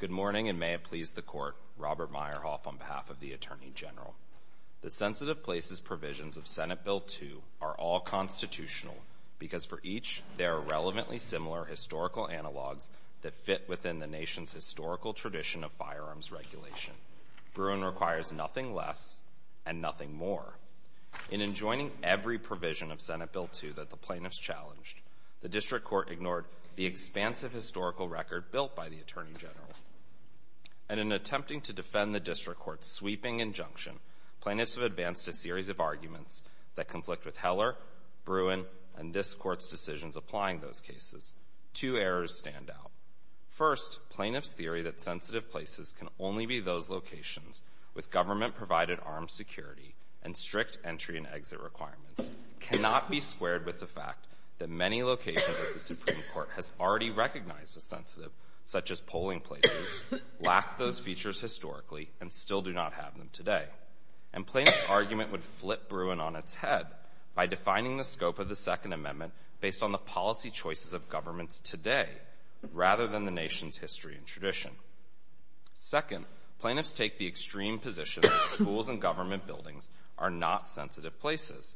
Good morning, and may it please the Court, Robert Meyerhoff, on behalf of the Attorney General. The sensitive places provisions of Senate Bill 2 are all constitutional because for each there are relevantly similar historical analogs that fit within the nation's historical tradition of firearms regulation. Bruin requires nothing less and nothing more. In enjoining every provision of Senate Bill 2 that the plaintiffs challenged, the District Court ignored the expansive historical record built by the Attorney General. And in attempting to defend the District Court's sweeping injunction, plaintiffs have advanced a series of arguments that conflict with Heller, Bruin, and this Court's decisions applying those cases. Two errors stand out. First, plaintiffs' theory that sensitive places can only be those locations with government-provided armed security and strict entry and exit requirements cannot be squared with the fact that many locations that the Supreme Court has already recognized as sensitive, such as polling places, lack those features historically and still do not have them today. And plaintiffs' argument would flip Bruin on its head by defining the scope of the Second Amendment based on the policy choices of governments today rather than the nation's history and tradition. Second, plaintiffs take the extreme position that schools and government buildings are not sensitive places.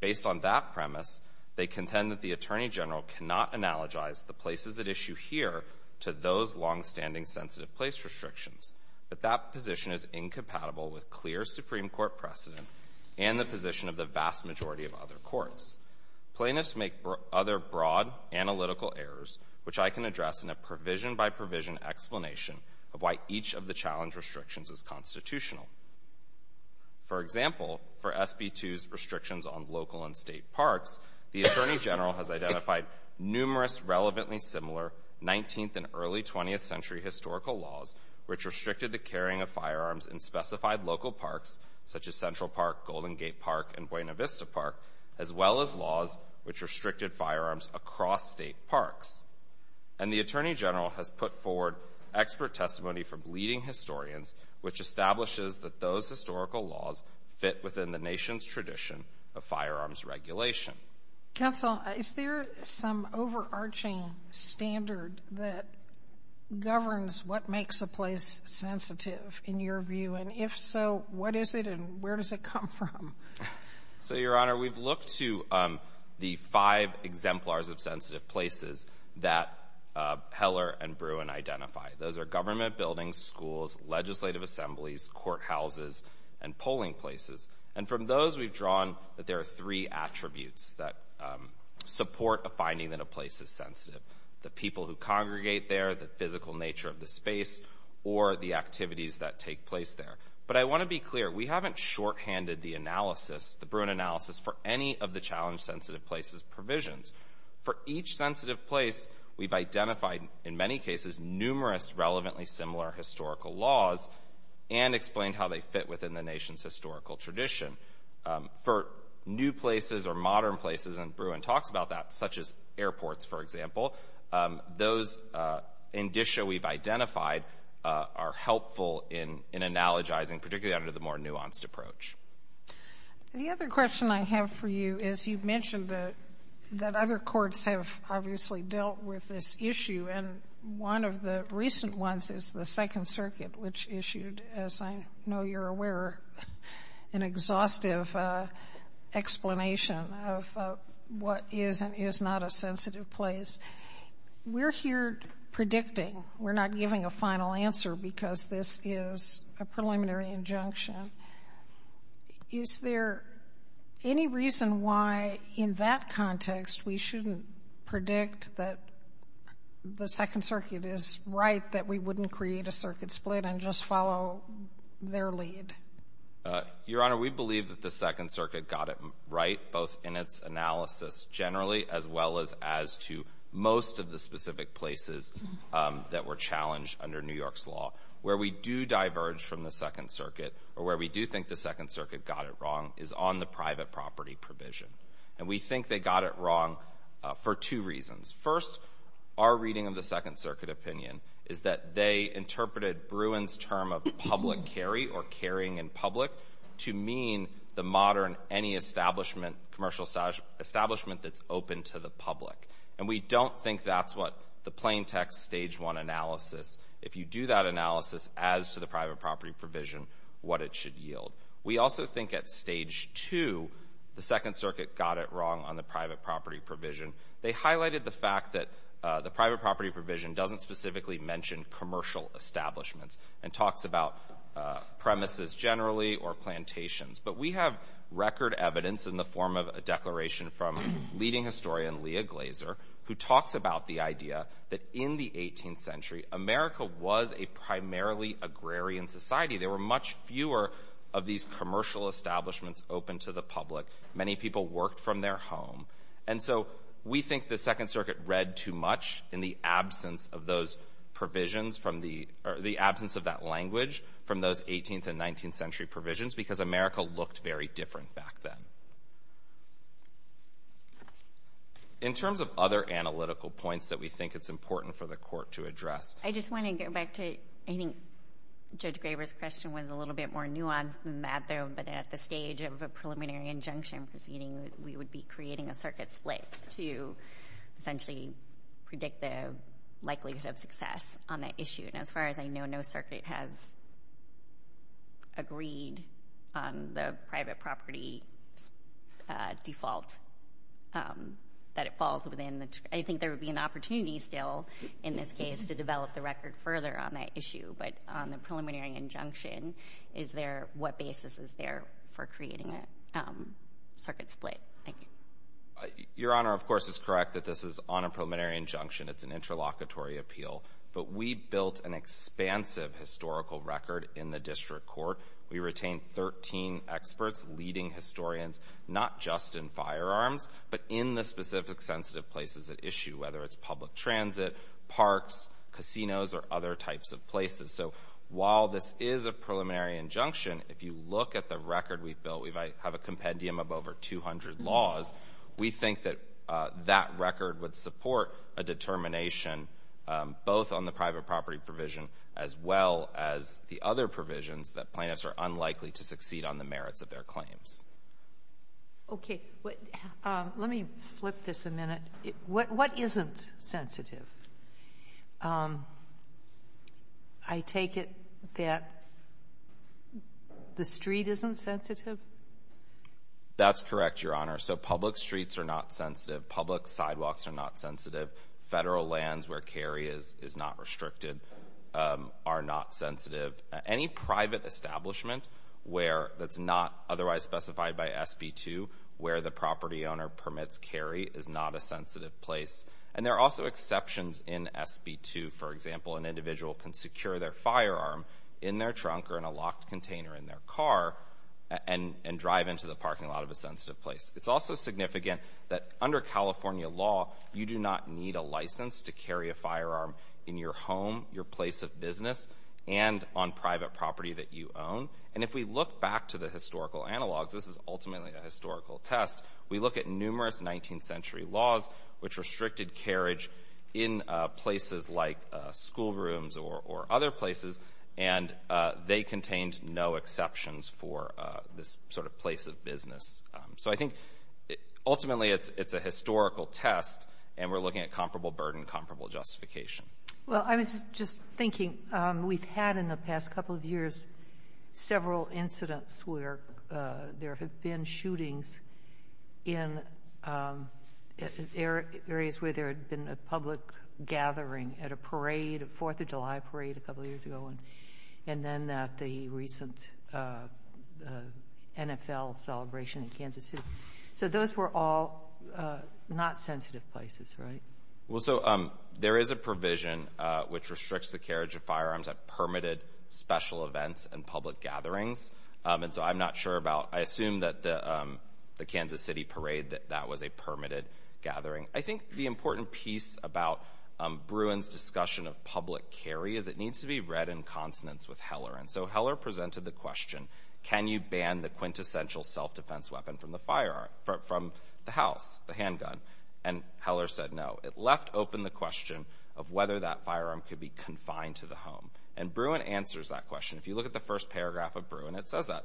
Based on that premise, they contend that the Attorney General cannot analogize the places at issue here to those longstanding sensitive-place restrictions. But that position is incompatible with clear Supreme Court precedent and the position of the vast majority of other courts. Plaintiffs make other broad analytical errors, which I can address in a provision-by-provision explanation of why each of the challenge restrictions is constitutional. For example, for SB 2's restrictions on local and state parks, the Attorney General has identified numerous relevantly similar 19th- and early-20th-century historical laws which restricted the carrying of firearms in specified local parks, such as Central Park, Golden Gate Park, and Buena Vista Park, as well as laws which restricted firearms across state parks. And the Attorney General has put forward expert testimony from leading historians which establishes that those historical laws fit within the nation's tradition of firearms regulation. Counsel, is there some overarching standard that governs what makes a place sensitive in your view? And if so, what is it and where does it come from? So, Your Honor, we've looked to the five exemplars of sensitive places that Heller and Bruin identify. Those are government buildings, schools, legislative assemblies, courthouses, and polling places. And from those, we've drawn that there are three attributes that support a finding that a place is sensitive, the people who congregate there, the physical nature of the space, or the activities that take place there. But I want to be clear, we haven't shorthanded the analysis, the Bruin analysis, for any of the challenge-sensitive places provisions. For each sensitive place, we've identified, in many cases, numerous relevantly similar historical laws and explained how they fit within the nation's historical tradition. For new places or modern places, and Bruin talks about that, such as airports, for example, those in disho we've identified are helpful in analogizing, particularly under the more nuanced approach. The other question I have for you is, you mentioned that other courts have obviously dealt with this issue, and one of the recent ones is the Second Circuit, which issued, as I know you're aware, an exhaustive explanation of what is and is not a sensitive place. We're here predicting. We're not giving a final answer because this is a preliminary injunction. Is there any reason why, in that context, we shouldn't predict that the Second Circuit is right that we wouldn't create a circuit split and just follow their lead? Your Honor, we believe that the Second Circuit got it right, both in its analysis generally as well as to most of the specific places that were challenged under New York's law. Where we do diverge from the Second Circuit, or where we do think the Second Circuit got it wrong, is on the private property provision, and we think they got it wrong for two reasons. First, our reading of the Second Circuit opinion is that they interpreted Bruin's term of public carry or carrying in public to mean the modern any establishment, commercial establishment that's open to the public. And we don't think that's what the plaintext Stage 1 analysis, if you do that analysis as to the private property provision, what it should yield. We also think at Stage 2, the Second Circuit got it wrong on the private property provision. They highlighted the fact that the private property provision doesn't specifically mention commercial establishments and talks about premises generally or plantations. But we have record evidence in the form of a declaration from leading historian Leah Glazer, who talks about the idea that in the 18th century, America was a primarily agrarian society. There were much fewer of these commercial establishments open to the public. Many people worked from their home. And so we think the Second Circuit read too much in the absence of those provisions from the, or the absence of that language from those 18th and 19th century provisions because America looked very different back then. In terms of other analytical points that we think it's important for the court to address. I just want to get back to, I think Judge Graber's question was a little bit more nuanced than that though. But at the stage of a preliminary injunction proceeding, we would be creating a circuit split to essentially predict the likelihood of success on that issue. And as far as I know, no circuit has agreed on the private property default that it falls within the, I think there would be an opportunity still in this case to develop the record further on that issue. But on the preliminary injunction, is there, what basis is there for creating a circuit split? Thank you. Your Honor, of course, is correct that this is on a preliminary injunction. It's an interlocutory appeal. But we built an expansive historical record in the district court. We retained 13 experts, leading historians, not just in firearms, but in the specific sensitive places at issue, whether it's public transit, parks, casinos, or other types of places. So while this is a preliminary injunction, if you look at the record we've built, we have a compendium of over 200 laws. We think that that record would support a determination, both on the private property provision as well as the other provisions, that plaintiffs are unlikely to succeed on the merits of their claims. Okay. Let me flip this a minute. What isn't sensitive? I take it that the street isn't sensitive? That's correct, Your Honor. So public streets are not sensitive, public sidewalks are not sensitive, federal lands where carry is not restricted are not sensitive. Any private establishment that's not otherwise specified by SB 2, where the property owner permits carry, is not a sensitive place. And there are also exceptions in SB 2. For example, an individual can secure their firearm in their trunk or in a locked container in their car and drive into the parking lot of a sensitive place. It's also significant that under California law, you do not need a license to carry a firearm in your home, your place of business, and on private property that you own. And if we look back to the historical analogs, this is ultimately a historical test, we look at numerous 19th century laws which restricted carriage in places like school rooms or other places and they contained no exceptions for this sort of place of business. So I think ultimately it's a historical test and we're looking at comparable burden, comparable justification. Well, I was just thinking, we've had in the past couple of years several incidents where there have been shootings in areas where there had been a public gathering at a parade, a So those were all not sensitive places, right? Well, so there is a provision which restricts the carriage of firearms at permitted special events and public gatherings. And so I'm not sure about, I assume that the Kansas City parade, that that was a permitted gathering. I think the important piece about Bruin's discussion of public carry is it needs to be read in consonance with Heller. And so Heller presented the question, can you ban the quintessential self-defense weapon from the firearm, from the house, the handgun? And Heller said no. It left open the question of whether that firearm could be confined to the home. And Bruin answers that question. If you look at the first paragraph of Bruin, it says that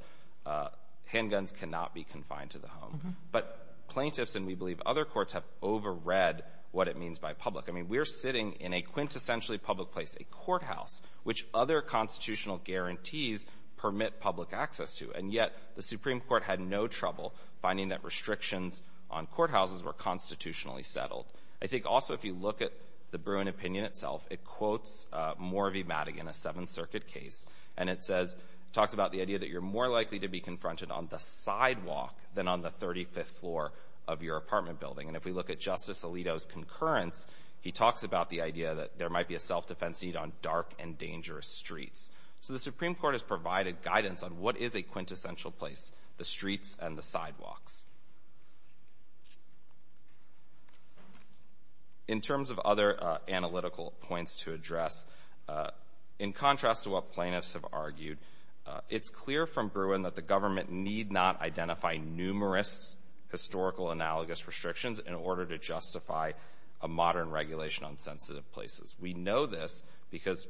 handguns cannot be confined to the home. But plaintiffs, and we believe other courts, have overread what it means by public. I mean, we're sitting in a quintessentially public place, a courthouse, which other constitutional guarantees permit public access to. And yet the Supreme Court had no trouble finding that restrictions on courthouses were constitutionally settled. I think also if you look at the Bruin opinion itself, it quotes Morvey Madigan, a Seventh Circuit case, and it says, talks about the idea that you're more likely to be confronted on the sidewalk than on the 35th floor of your apartment building. And if we look at Justice Alito's concurrence, he talks about the idea that there might be a self-defense need on dark and dangerous streets. So the Supreme Court has provided guidance on what is a quintessential place, the streets and the sidewalks. In terms of other analytical points to address, in contrast to what plaintiffs have argued, it's clear from Bruin that the government need not identify numerous historical analogous restrictions in order to justify a modern regulation on sensitive places. We know this because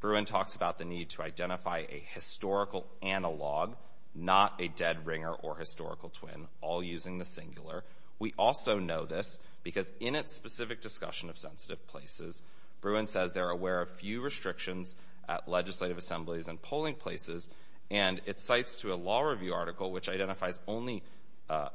Bruin talks about the need to identify a historical analog, not a dead ringer or historical twin, all using the singular. We also know this because in its specific discussion of sensitive places, Bruin says they're aware of few restrictions at legislative assemblies and polling places, and it cites to a law review article which identifies only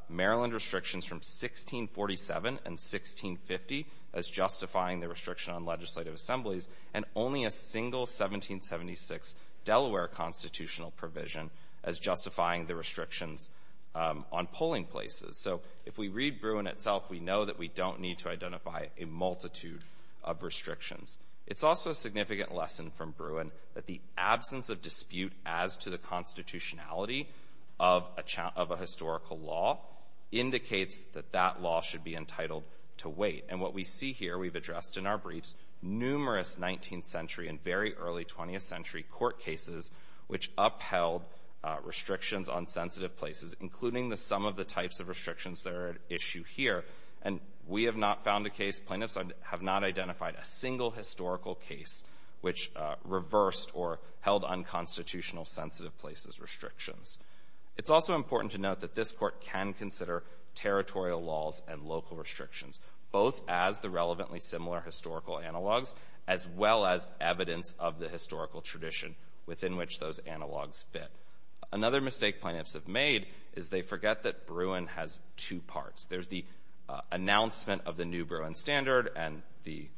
Maryland restrictions from 1647 and 1650 as justifying the restriction on legislative assemblies, and only a single 1776 Delaware constitutional provision as justifying the restrictions on polling places. So if we read Bruin itself, we know that we don't need to identify a multitude of restrictions. It's also a significant lesson from Bruin that the absence of dispute as to the constitutionality of a historical law indicates that that law should be entitled to wait. And what we see here, we've addressed in our briefs, numerous 19th century and very early 20th century court cases which upheld restrictions on sensitive places, including the sum of the types of restrictions that are at issue here. And we have not found a case, plaintiffs have not identified a single historical case which reversed or held unconstitutional sensitive places restrictions. It's also important to note that this Court can consider territorial laws and local restrictions, both as the relevantly similar historical analogs, as well as evidence of the historical tradition within which those analogs fit. Another mistake plaintiffs have made is they forget that Bruin has two parts. There's the announcement of the new Bruin standard and the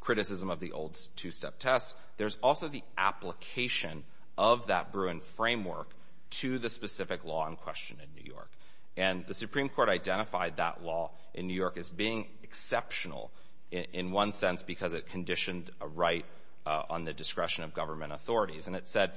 criticism of the old two-step test. There's also the application of that Bruin framework to the specific law in question in New York. And the Supreme Court identified that law in New York as being exceptional in one sense because it conditioned a right on the discretion of government authorities. And it said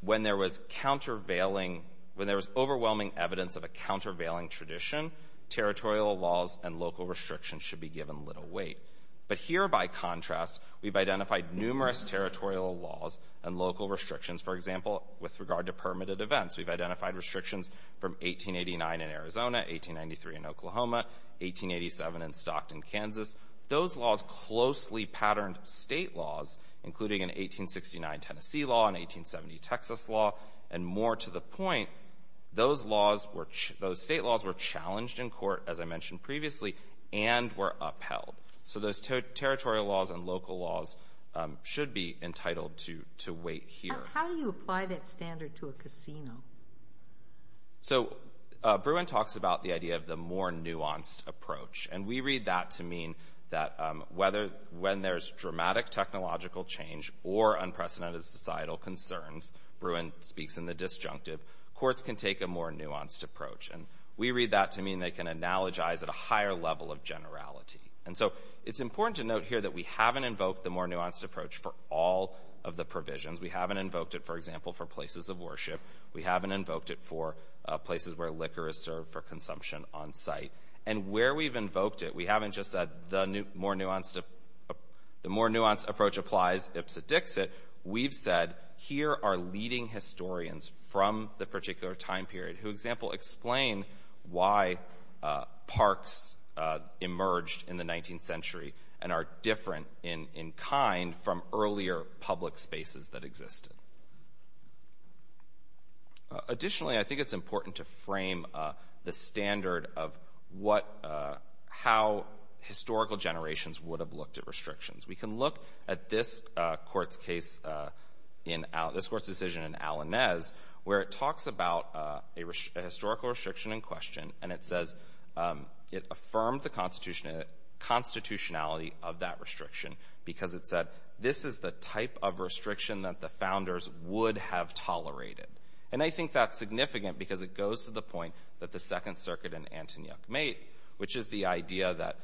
when there was countervailing, when there was overwhelming evidence of a countervailing tradition, territorial laws and local restrictions should be given little weight. But here, by contrast, we've identified numerous territorial laws and local restrictions. For example, with regard to permitted events, we've identified restrictions from 1889 in Arizona, 1893 in Oklahoma, 1887 in Stockton, Kansas. Those laws closely patterned State laws, including an 1869 Tennessee law, an 1870 Texas law, and more to the point, those laws were ch — those State laws were challenged in court, as I mentioned previously, and were upheld. So those territorial laws and local laws should be entitled to — to weight here. But how do you apply that standard to a casino? So Bruin talks about the idea of the more nuanced approach. And we read that to mean that whether — when there's dramatic technological change or unprecedented societal concerns, Bruin speaks in the disjunctive, courts can take a more nuanced approach. And we read that to mean they can analogize at a higher level of generality. And so it's important to note here that we haven't invoked the more nuanced approach for all of the provisions. We haven't invoked it, for example, for places of worship. We haven't invoked it for places where liquor is served for consumption on site. And where we've invoked it, we haven't just said the more nuanced — the more nuanced approach applies ipsit dixit. We've said, here are leading historians from the particular time period who, example, explain why parks emerged in the 19th century and are different in — in kind from earlier public spaces that existed. Additionally, I think it's important to frame the standard of what — how historical generations would have looked at restrictions. We can look at this court's case in — this court's decision in Alanez, where it talks about a historical restriction in question, and it says — it affirmed the constitutionality of that restriction because it said, this is the type of restriction that the founders would have tolerated. And I think that's significant because it goes to the point that the Second Circuit and Antonyuk made, which is the idea that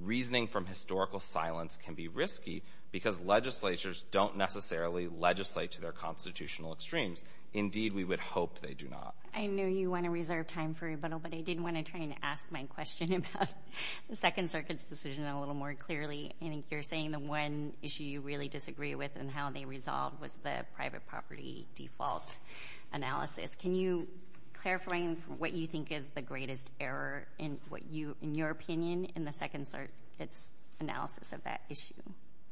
reasoning from historical silence can be risky because legislatures don't necessarily legislate to their constitutional extremes. Indeed, we would hope they do not. I know you want to reserve time for rebuttal, but I did want to try and ask my question about the Second Circuit's decision a little more clearly. I think you're saying the one issue you really disagree with and how they resolved was the private property default analysis. Can you clarify what you think is the greatest error in what you — in your opinion, in the Second Circuit's analysis of that issue?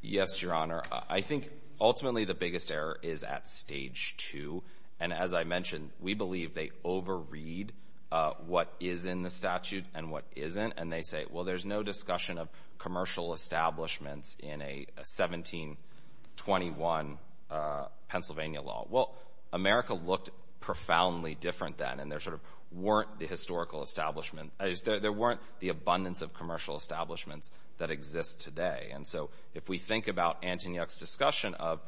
Yes, Your Honor. I think, ultimately, the biggest error is at Stage 2. And as I mentioned, we believe they over-read what is in the statute and what isn't. And they say, well, there's no discussion of commercial establishments in a 1721 Pennsylvania law. Well, America looked profoundly different then, and there sort of weren't the historical establishment — there weren't the abundance of commercial establishments that exist today. And so if we think about Antonyuk's discussion of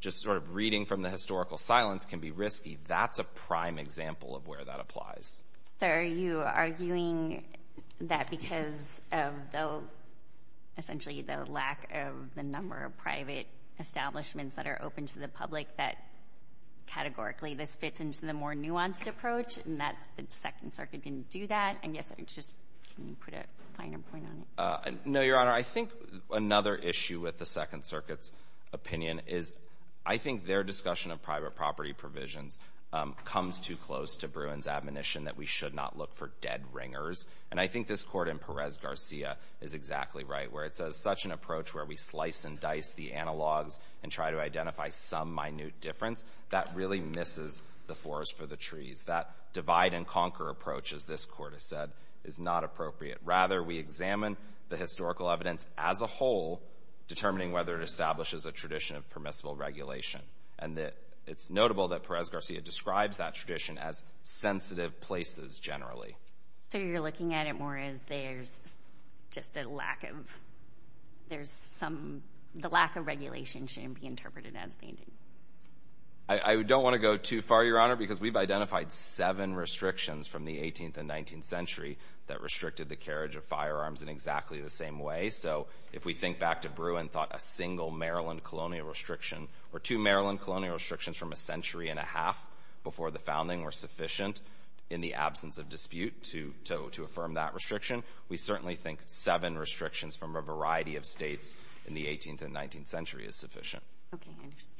just sort of reading from the historical silence can be risky, that's a prime example of where that applies. So are you arguing that because of the — essentially the lack of the number of private establishments that are open to the public that, categorically, this fits into the more nuanced approach, and that the Second Circuit didn't do that? And yes, or just — can you put a finer point on it? No, Your Honor. I think another issue with the Second Circuit's opinion is I think their discussion of private property provisions comes too close to Bruin's admonition that we should not look for dead ringers. And I think this Court in Perez-Garcia is exactly right, where it says such an approach where we slice and dice the analogs and try to identify some minute difference, that really misses the forest for the trees. That divide-and-conquer approach, as this Court has said, is not appropriate. Rather, we examine the historical evidence as a whole, determining whether it establishes a tradition of permissible regulation. And it's notable that Perez-Garcia describes that tradition as sensitive places, generally. So you're looking at it more as there's just a lack of — there's some — the lack of regulation shouldn't be interpreted as the ending. I don't want to go too far, Your Honor, because we've identified seven restrictions from the 18th and 19th century that restricted the carriage of firearms in exactly the same way. So if we think back to Bruin, thought a single Maryland colonial restriction or two Maryland colonial restrictions from a century and a half before the founding were sufficient in the absence of dispute to affirm that restriction, we certainly think seven restrictions from a variety of states in the 18th and 19th century is sufficient. Okay. I understand.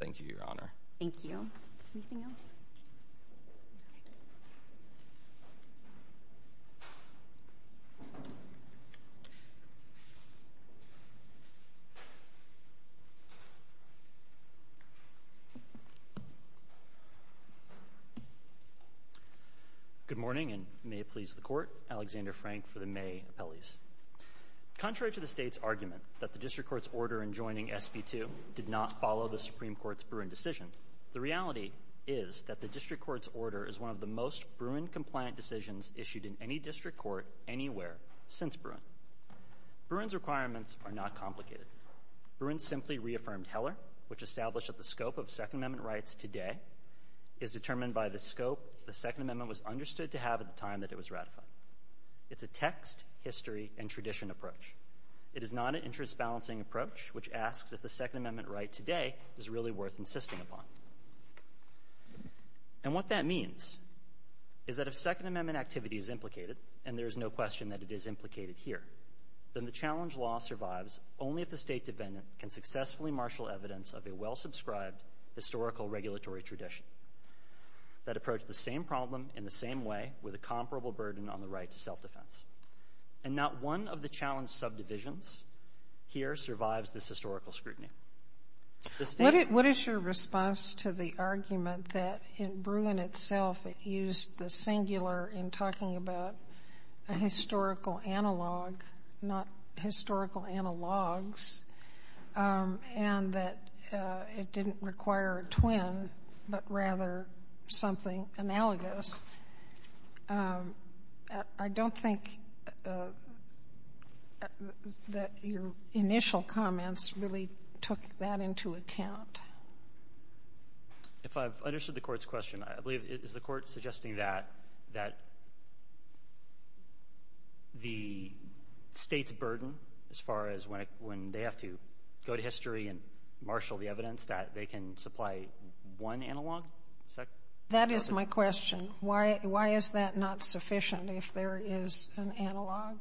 Thank you, Your Honor. Thank you. Anything else? Good morning, and may it please the Court. Alexander Frank for the May appellees. Contrary to the state's argument that the district court's order in joining SB 2 did not follow the Supreme Court's Bruin decision, the reality is that the district court's order is one of the most Bruin-compliant decisions issued in any district court anywhere since Bruin. Bruin's requirements are not complicated. Bruin simply reaffirmed Heller, which established that the scope of Second Amendment rights today is determined by the scope the Second Amendment was understood to have at the time that it was ratified. It's a text, history, and tradition approach. It is not an interest-balancing approach, which asks if the Second Amendment right today is really worth insisting upon. And what that means is that if Second Amendment activity is implicated, and there is no question that it is implicated here, then the challenge law survives only if the state defendant can successfully marshal evidence of a well-subscribed historical regulatory tradition that approached the same problem in the same way with a comparable burden on the right to self-defense. And not one of the challenge subdivisions here survives this historical scrutiny. The state ---- Sotomayor, what is your response to the argument that in Bruin itself, it used the singular in talking about a historical analog, not historical analogs, and that it didn't require a twin, but rather something analogous? I don't think that your initial comments really took that into account. If I've understood the Court's question, I believe it is the Court suggesting that the state's burden as far as when they have to go to history and marshal the evidence that they can supply one analog? That is my question. Why is that not sufficient if there is an analog?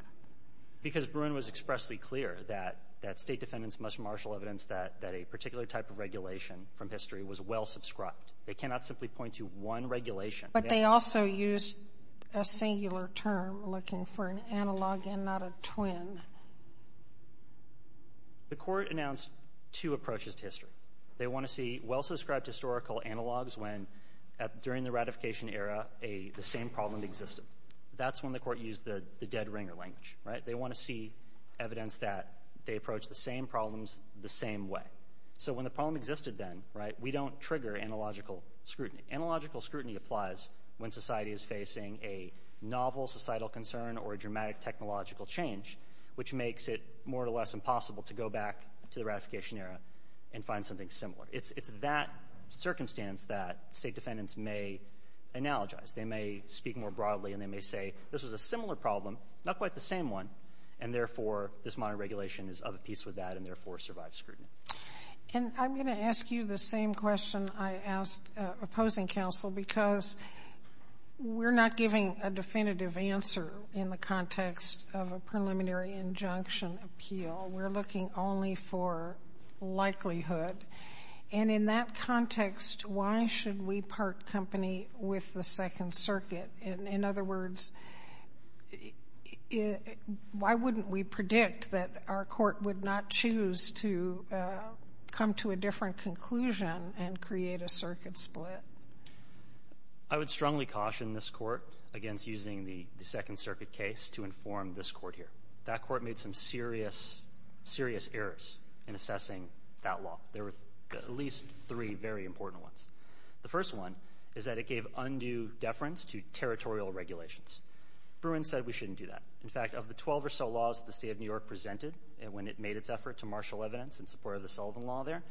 Because Bruin was expressly clear that state defendants must marshal evidence that a particular type of regulation from history was well-subscribed. They cannot simply point to one regulation. But they also used a singular term, looking for an analog and not a twin. The Court announced two approaches to history. They want to see well-subscribed historical analogs when, during the ratification era, the same problem existed. That's when the Court used the dead ringer language, right? They want to see evidence that they approach the same problems the same way. So when the problem existed then, right, we don't trigger analogical scrutiny. Analogical scrutiny applies when society is facing a novel societal concern or a dramatic technological change, which makes it more or less impossible to go back to the ratification era and find something similar. It's that circumstance that state defendants may analogize. They may speak more broadly, and they may say, this was a similar problem, not quite the same one, and therefore, this modern regulation is of a piece with that and therefore survives scrutiny. And I'm going to ask you the same question I asked opposing counsel, because we're not giving a definitive answer in the context of a preliminary injunction appeal. We're looking only for likelihood. And in that context, why should we part company with the Second Circuit? In other words, why wouldn't we predict that our court would not choose to come to a different conclusion and create a circuit split? I would strongly caution this Court against using the Second Circuit case to inform this court here. That court made some serious, serious errors in assessing that law. There were at least three very important ones. The first one is that it gave undue deference to territorial regulations. Bruin said we shouldn't do that. In fact, of the 12 or so laws the State of New York presented when it made its effort to marshal evidence in support of the Sullivan Law there,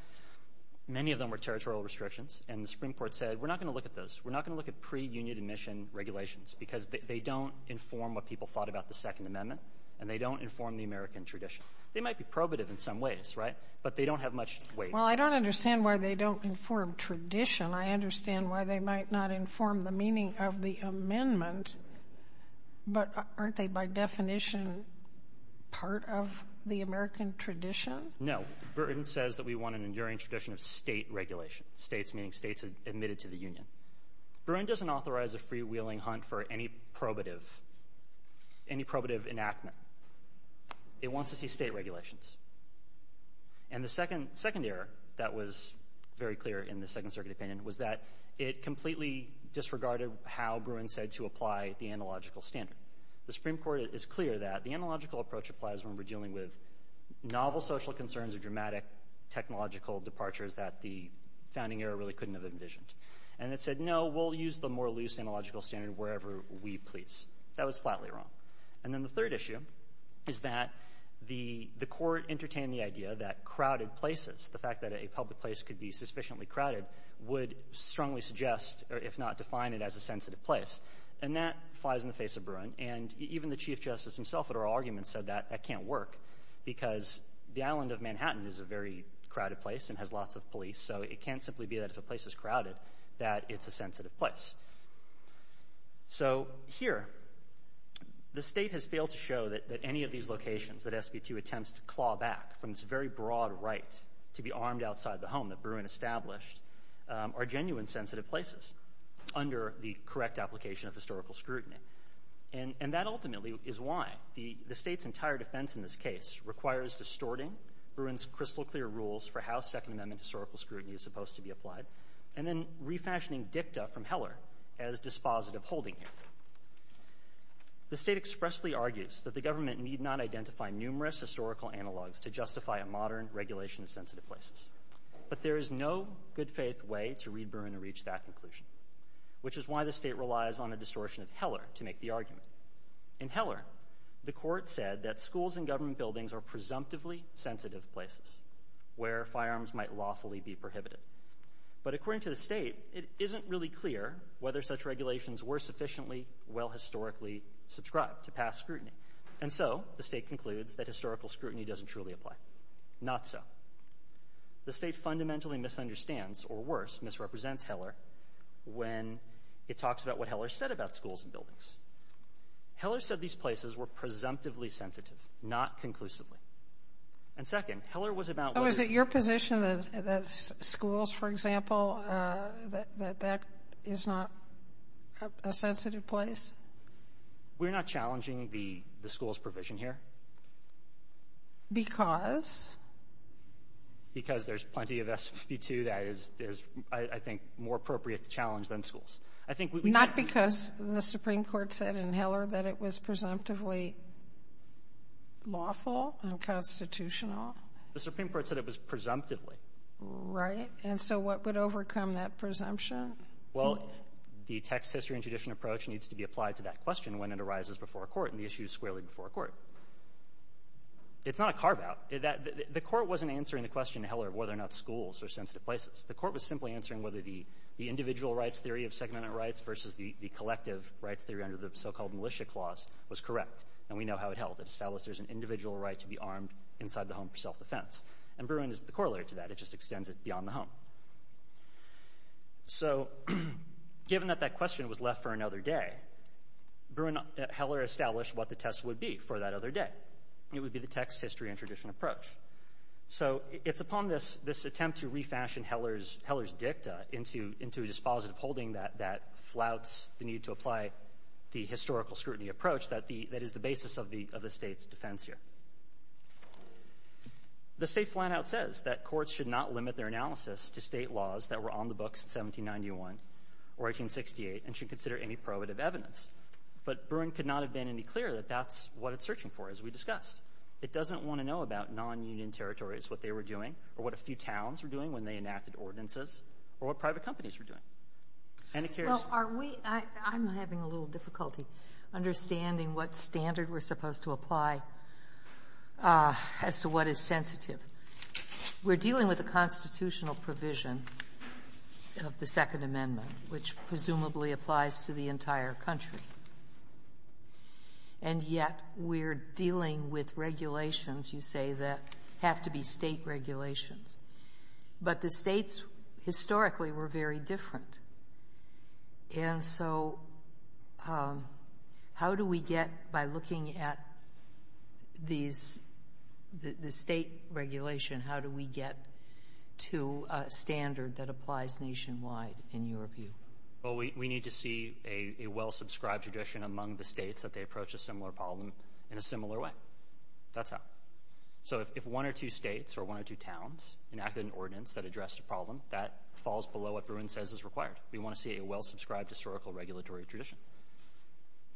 many of them were territorial restrictions, and the Supreme Court said, we're not going to look at those. We're not going to look at pre-union admission regulations, because they don't inform what people thought about the Second Amendment, and they don't inform the American tradition. They might be probative in some ways, right? But they don't have much weight. Well, I don't understand why they don't inform tradition. I understand why they might not inform the meaning of the amendment. But aren't they, by definition, part of the American tradition? No. Bruin says that we want an enduring tradition of State regulation, States meaning States admitted to the union. Bruin doesn't authorize a freewheeling hunt for any probative, any probative enactment. It wants to see State regulations. And the second error that was very clear in the Second Circuit opinion was that it completely disregarded how Bruin said to apply the analogical standard. The Supreme Court is clear that the analogical approach applies when we're dealing with novel social concerns or dramatic technological departures that the founding era really couldn't have envisioned. And it said, no, we'll use the more loose analogical standard wherever we please. That was flatly wrong. And then the third issue is that the court entertained the idea that crowded places, the fact that a public place could be sufficiently crowded, would strongly suggest, if not define it as a sensitive place. And that flies in the face of Bruin. And even the Chief Justice himself at our argument said that that can't work because the island of Manhattan is a very crowded place and has lots of police. So it can't simply be that if a place is crowded that it's a sensitive place. So here, the State has failed to show that any of these locations that SB2 attempts to claw back from this very broad right to be armed outside the home that Bruin established are genuine sensitive places under the correct application of historical scrutiny. And that ultimately is why the State's entire defense in this case requires distorting Bruin's amendment to historical scrutiny as supposed to be applied and then refashioning dicta from Heller as dispositive holding here. The State expressly argues that the government need not identify numerous historical analogs to justify a modern regulation of sensitive places. But there is no good faith way to read Bruin to reach that conclusion, which is why the State relies on a distortion of Heller to make the argument. In Heller, the court said that schools and government buildings are presumptively sensitive places where firearms might lawfully be prohibited. But according to the State, it isn't really clear whether such regulations were sufficiently well historically subscribed to past scrutiny. And so, the State concludes that historical scrutiny doesn't truly apply. Not so. The State fundamentally misunderstands, or worse, misrepresents Heller when it talks about what Heller said about schools and buildings. Heller said these places were presumptively sensitive, not conclusively. And second, Heller was about whether — Oh, is it your position that schools, for example, that that is not a sensitive place? We're not challenging the school's provision here. Because? Because there's plenty of SB 2 that is, I think, more appropriate to challenge than schools. I think — Not because the Supreme Court said in Heller that it was presumptively lawful? Constitutional? The Supreme Court said it was presumptively. Right. And so, what would overcome that presumption? Well, the text, history, and tradition approach needs to be applied to that question when it arises before a court and the issues squarely before a court. It's not a carve-out. The court wasn't answering the question in Heller of whether or not schools are sensitive places. The court was simply answering whether the individual rights theory of Second Amendment rights versus the collective rights theory under the so-called Militia Clause was correct. And we know how it held. It established there's an individual right to be armed inside the home for self-defense. And Bruin is the corollary to that. It just extends it beyond the home. So, given that that question was left for another day, Bruin — Heller established what the test would be for that other day. It would be the text, history, and tradition approach. So, it's upon this — this attempt to refashion Heller's — Heller's dicta into — into a dispositive holding that — that flouts the need to apply the historical scrutiny approach that the — that is the basis of the — of the State's defense here. The State flat-out says that courts should not limit their analysis to State laws that were on the books in 1791 or 1868 and should consider any probative evidence. But Bruin could not have been any clearer that that's what it's searching for, as we discussed. It doesn't want to know about non-Union territories, what they were doing, or what a few towns were doing when they enacted ordinances, or what private companies were doing. And it carries — Are we — I'm having a little difficulty understanding what standard we're supposed to apply as to what is sensitive. We're dealing with a constitutional provision of the Second Amendment, which presumably applies to the entire country. And yet, we're dealing with regulations, you say, that have to be State regulations. But the States, historically, were very different. And so, how do we get, by looking at these — the State regulation, how do we get to a standard that applies nationwide, in your view? Well, we need to see a well-subscribed tradition among the States that they approach a similar problem in a similar way. That's how. So, if one or two States or one or two towns enacted an ordinance that addressed a We want to see a well-subscribed historical regulatory tradition.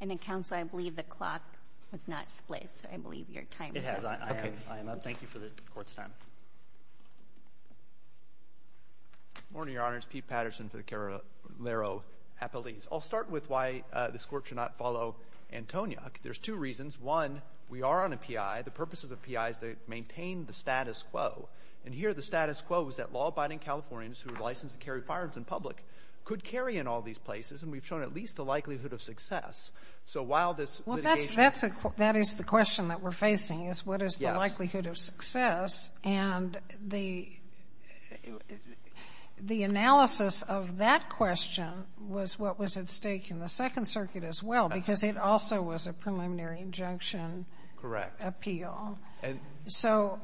And, Counsel, I believe the clock has not spliced, so I believe your time is up. It has. I am — I am up. Thank you for the Court's time. Good morning, Your Honors. Pete Patterson for the Carrillo Appellees. I'll start with why this Court should not follow Antoniak. There's two reasons. One, we are on a P.I. The purpose of the P.I. is to maintain the status quo. And here, the status quo is that law-abiding Californians who are licensed to carry firearms in public could carry in all these places. And we've shown at least the likelihood of success. So, while this litigation — Well, that's — that is the question that we're facing, is what is the likelihood of success. And the analysis of that question was what was at stake in the Second Circuit as well, because it also was a preliminary injunction — Correct. — appeal. So,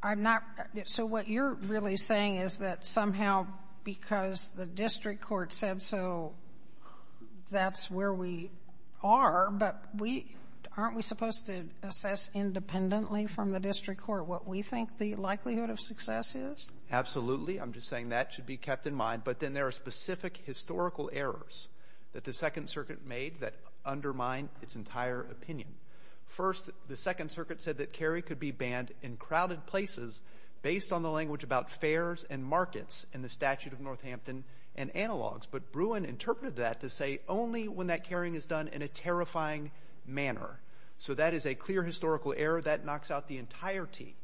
I'm not — so, what you're really saying is that somehow because the district court said so, that's where we are. But we — aren't we supposed to assess independently from the district court what we think the likelihood of success is? Absolutely. I'm just saying that should be kept in mind. But then there are specific historical errors that the Second Circuit made that undermine its entire opinion. First, the Second Circuit said that carry could be banned in crowded places based on the language about fairs and markets in the Statute of Northampton and analogues. But Bruin interpreted that to say only when that carrying is done in a terrifying manner. So, that is a clear historical error that knocks out the entirety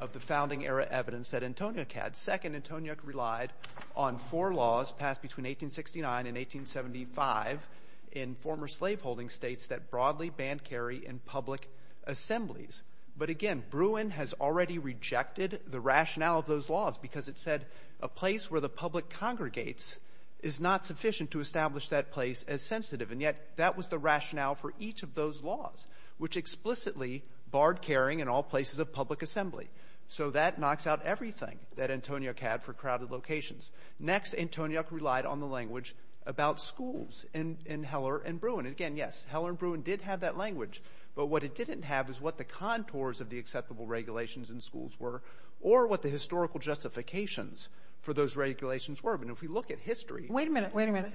of the founding-era evidence that Antoniuk had. Second, Antoniuk relied on four laws passed between 1869 and 1875 in former slave-holding states that broadly banned carry in public assemblies. But again, Bruin has already rejected the rationale of those laws because it said a place where the public congregates is not sufficient to establish that place as sensitive. And yet, that was the rationale for each of those laws, which explicitly barred carrying in all places of public assembly. So, that knocks out everything that Antoniuk had for crowded locations. Next, Antoniuk relied on the language about schools in Heller and Bruin. And, again, yes, Heller and Bruin did have that language. But what it didn't have is what the contours of the acceptable regulations in schools were or what the historical justifications for those regulations were. I mean, if we look at history — Wait a minute. Wait a minute.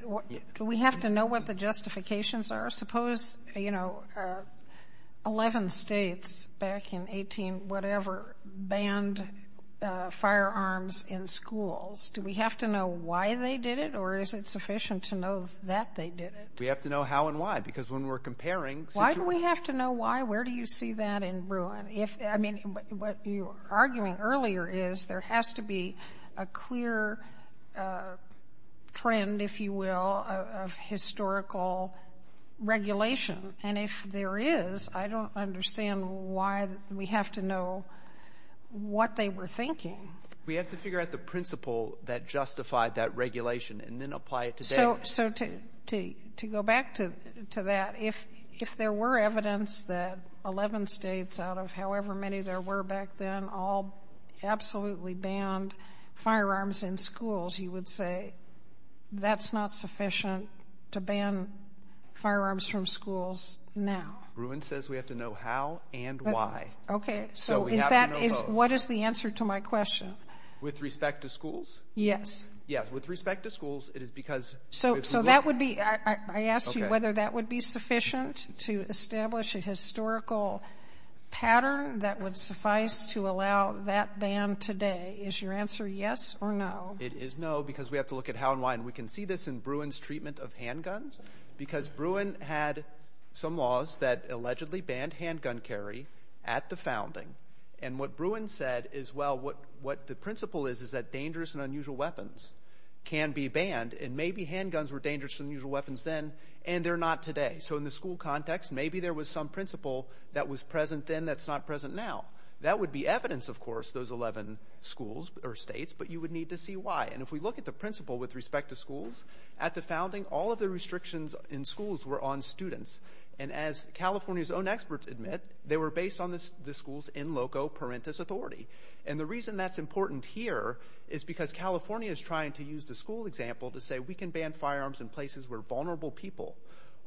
Do we have to know what the justifications are? Suppose, you know, 11 states back in 18-whatever banned firearms in schools. Do we have to know why they did it, or is it sufficient to know that they did it? We have to know how and why, because when we're comparing situations — Why do we have to know why? Where do you see that in Bruin? If — I mean, what you were arguing earlier is there has to be a clear trend, if you will, of historical regulation. And if there is, I don't understand why we have to know what they were thinking. We have to figure out the principle that justified that regulation and then apply it today. So to go back to that, if there were evidence that 11 states out of however many there were back then all absolutely banned firearms in schools, you would say that's not sufficient to ban firearms from schools now. Bruin says we have to know how and why. Okay. So we have to know those. What is the answer to my question? With respect to schools? Yes. Yes. With respect to schools, it is because — So that would be — I asked you whether that would be sufficient to establish a historical pattern that would suffice to allow that ban today. Is your answer yes or no? It is no, because we have to look at how and why. And we can see this in Bruin's treatment of handguns, because Bruin had some laws that allegedly banned handgun carry at the founding. And what Bruin said is, well, what the principle is is that dangerous and unusual weapons can be banned. And maybe handguns were dangerous and unusual weapons then, and they're not today. So in the school context, maybe there was some principle that was present then that's not present now. That would be evidence, of course, those 11 schools or states, but you would need to see why. And if we look at the principle with respect to schools, at the founding, all of the restrictions in schools were on students. And as California's own experts admit, they were based on the school's in loco parentis authority. And the reason that's important here is because California is trying to use the school example to say, we can ban firearms in places where vulnerable people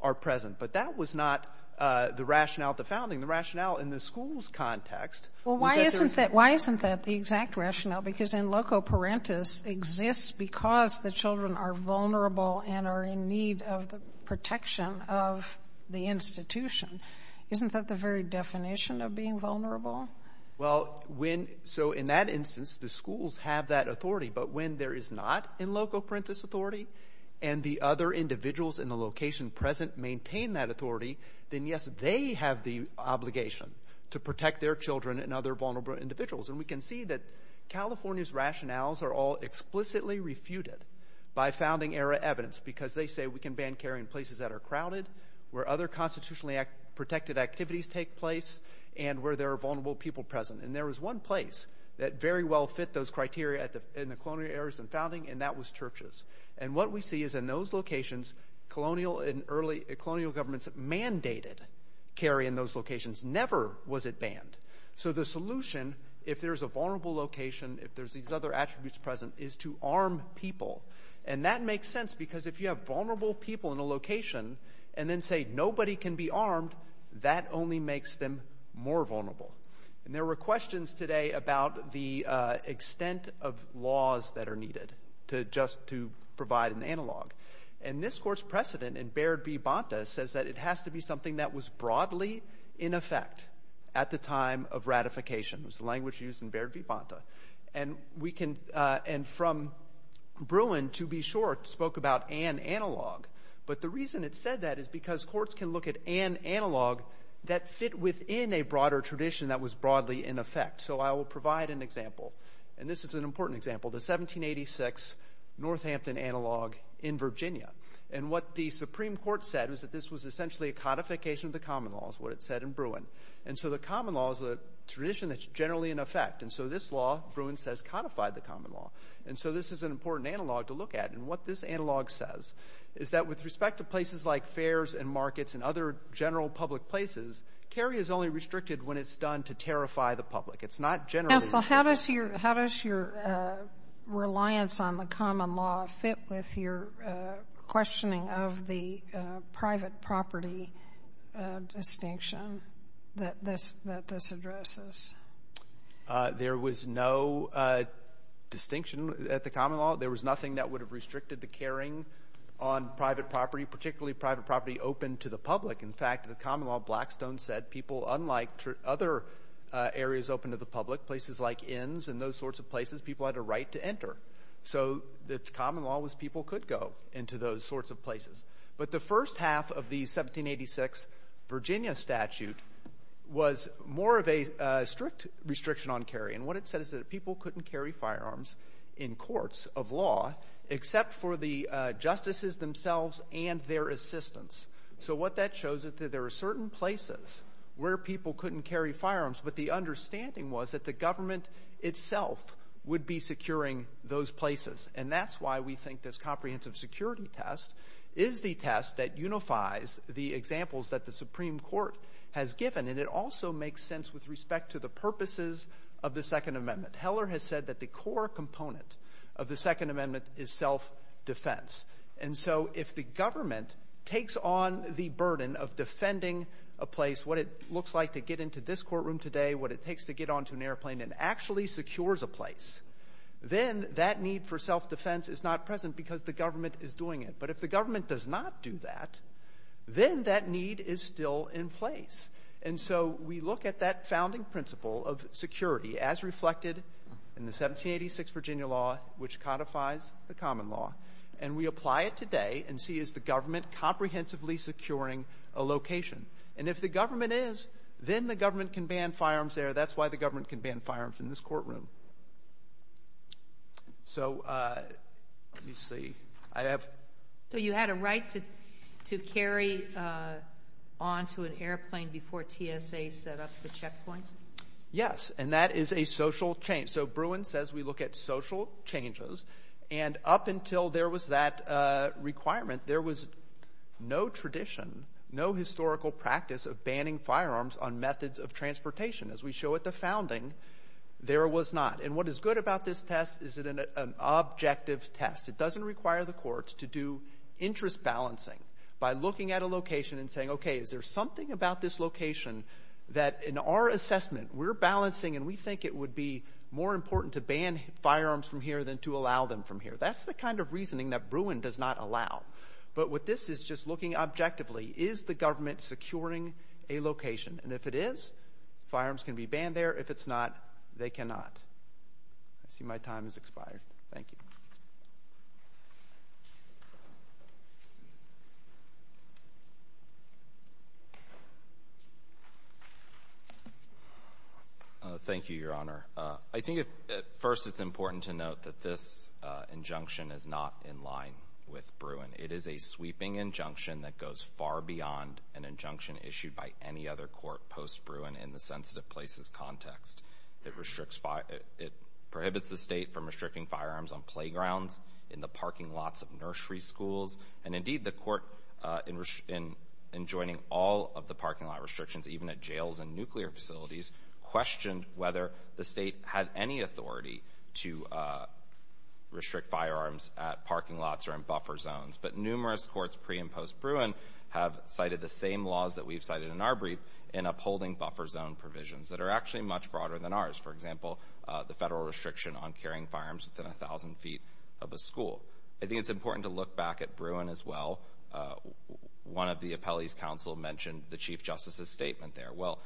are present. But that was not the rationale at the founding. The rationale in the school's context was that there was — Well, why isn't that the exact rationale? Because in loco parentis exists because the children are vulnerable and are in need of the protection of the institution. Isn't that the very definition of being vulnerable? Well, when — so in that instance, the schools have that authority. But when there is not in loco parentis authority, and the other individuals in the location present maintain that authority, then yes, they have the obligation to protect their children and other vulnerable individuals. And we can see that California's rationales are all explicitly refuted by founding-era evidence, because they say we can ban carry in places that are crowded, where other constitutionally protected activities take place, and where there are vulnerable people present. And there was one place that very well fit those criteria in the colonial era and founding, and that was churches. And what we see is in those locations, colonial and early colonial governments mandated carry in those locations. Never was it banned. So the solution, if there's a vulnerable location, if there's these other attributes present, is to arm people. And that makes sense, because if you have vulnerable people in a location and then say nobody can be armed, that only makes them more vulnerable. And there were questions today about the extent of laws that are needed to just to provide an analog. And this Court's precedent in Baird v. Bonta says that it has to be something that was broadly in effect at the time of ratification. It was the language used in Baird v. Bonta. And we can, and from Bruin, to be sure, spoke about an analog. But the reason it said that is because courts can look at an analog that fit within a broader tradition that was broadly in effect. So I will provide an example. And this is an important example, the 1786 Northampton Analog in Virginia. And what the Supreme Court said was that this was essentially a codification of the common law, is what it said in Bruin. And so the common law is a tradition that's generally in effect. And so this law, Bruin says, codified the common law. And so this is an important analog to look at. And what this analog says is that with respect to places like fairs and markets and other general public places, carry is only restricted when it's done to terrify the public. It's not generally restricted. Counsel, how does your reliance on the common law fit with your questioning of the private property distinction that this addresses? There was no distinction at the common law. There was nothing that would have restricted the carrying on private property, particularly private property open to the public. In fact, the common law, Blackstone said, people, unlike other areas open to the public, places like inns and those sorts of places, people had a right to enter. So the common law was people could go into those sorts of places. But the first half of the 1786 Virginia statute was more of a strict restriction on carry. And what it said is that people couldn't carry firearms in courts of law except for the justices themselves and their assistants. So what that shows is that there are certain places where people couldn't carry firearms. But the understanding was that the government itself would be securing those places. And that's why we think this comprehensive security test is the test that unifies the examples that the Supreme Court has given. And it also makes sense with respect to the purposes of the Second Amendment. Heller has said that the core component of the Second Amendment is self-defense. And so if the government takes on the burden of defending a place, what it looks like to get into this courtroom today, what it takes to get onto an airplane and actually secures a place, then that need for self-defense is not present because the government is doing it. But if the government does not do that, then that need is still in place. And so we look at that founding principle of security as reflected in the 1786 Virginia law, which codifies the common law, and we apply it today and see, is the government comprehensively securing a location? And if the government is, then the government can ban firearms there. That's why the government can ban firearms in this courtroom. So let me see. I have... So you had a right to carry on to an airplane before TSA set up the checkpoint? Yes. And that is a social change. So Bruin says we look at social changes. And up until there was that requirement, there was no tradition, no historical practice of So at the founding, there was not. And what is good about this test is it an objective test. It doesn't require the courts to do interest balancing by looking at a location and saying, okay, is there something about this location that in our assessment, we're balancing and we think it would be more important to ban firearms from here than to allow them from here. That's the kind of reasoning that Bruin does not allow. But what this is just looking objectively, is the government securing a location? And if it is, firearms can be banned there. If it's not, they cannot. I see my time has expired. Thank you. Thank you, Your Honor. I think at first it's important to note that this injunction is not in line with Bruin. It is a sweeping injunction that goes far beyond an injunction issued by any other court post-Bruin in the sensitive places context. It prohibits the state from restricting firearms on playgrounds, in the parking lots of nursery schools, and indeed the court in joining all of the parking lot restrictions, even at jails and nuclear facilities, questioned whether the state had any authority to restrict firearms at parking lots or in buffer zones. But numerous courts pre- and post-Bruin have cited the same laws that we've cited in our brief in upholding buffer zone provisions that are actually much broader than ours. For example, the federal restriction on carrying firearms within 1,000 feet of a school. I think it's important to look back at Bruin as well. One of the appellees' counsel mentioned the Chief Justice's statement there. Well,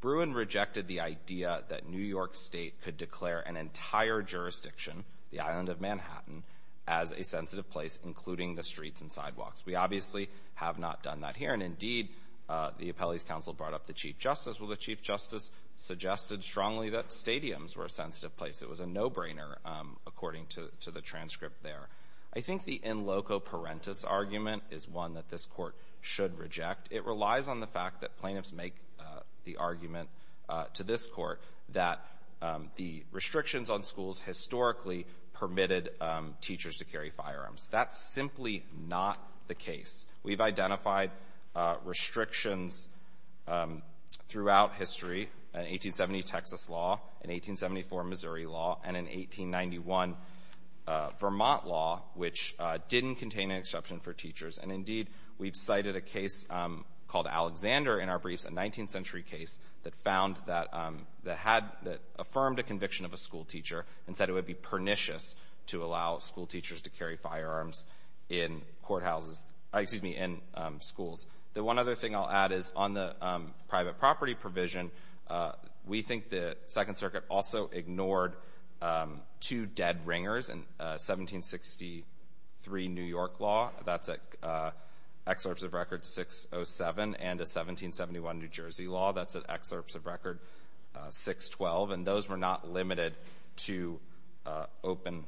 Bruin rejected the idea that New York State could declare an entire jurisdiction, the island of Manhattan, as a sensitive place, including the streets and sidewalks. We obviously have not done that here, and indeed the appellee's counsel brought up the Chief Justice. Well, the Chief Justice suggested strongly that stadiums were a sensitive place. It was a no-brainer according to the transcript there. I think the in loco parentis argument is one that this court should reject. It relies on the fact that plaintiffs make the argument to this court that the restrictions on schools historically permitted teachers to carry firearms. That's simply not the case. We've identified restrictions throughout history, an 1870 Texas law, an 1874 Missouri law, and an 1891 Vermont law, which didn't contain an exception for teachers. And indeed, we've cited a case called Alexander in our briefs, a 19th century case that found that had affirmed a conviction of a schoolteacher and said it would be pernicious to allow school teachers to carry firearms in courthouses, excuse me, in schools. The one other thing I'll add is on the private property provision, we think the Second Circuit also ignored two dead ringers, a 1763 New York law, that's an excerpt of Record 607, and a 1771 New Jersey law, that's an excerpt of Record 612. And those were not limited to open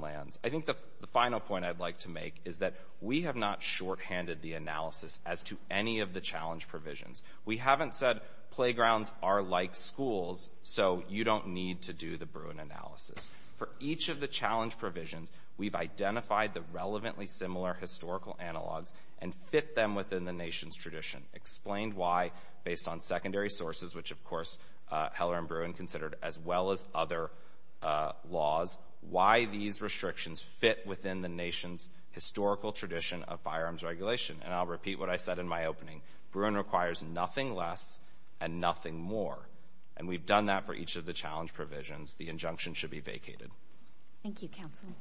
lands. I think the final point I'd like to make is that we have not shorthanded the analysis as to any of the challenge provisions. We haven't said playgrounds are like schools, so you don't need to do the Bruin analysis. For each of the challenge provisions, we've identified the relevantly similar historical analogs and fit them within the nation's tradition, explained why, based on secondary sources, which, of course, Heller and Bruin considered as well as other laws, why these restrictions fit within the nation's historical tradition of firearms regulation. And I'll repeat what I said in my opening. Bruin requires nothing less and nothing more. And we've done that for each of the challenge provisions. The injunction should be vacated. Thank you, Counselor.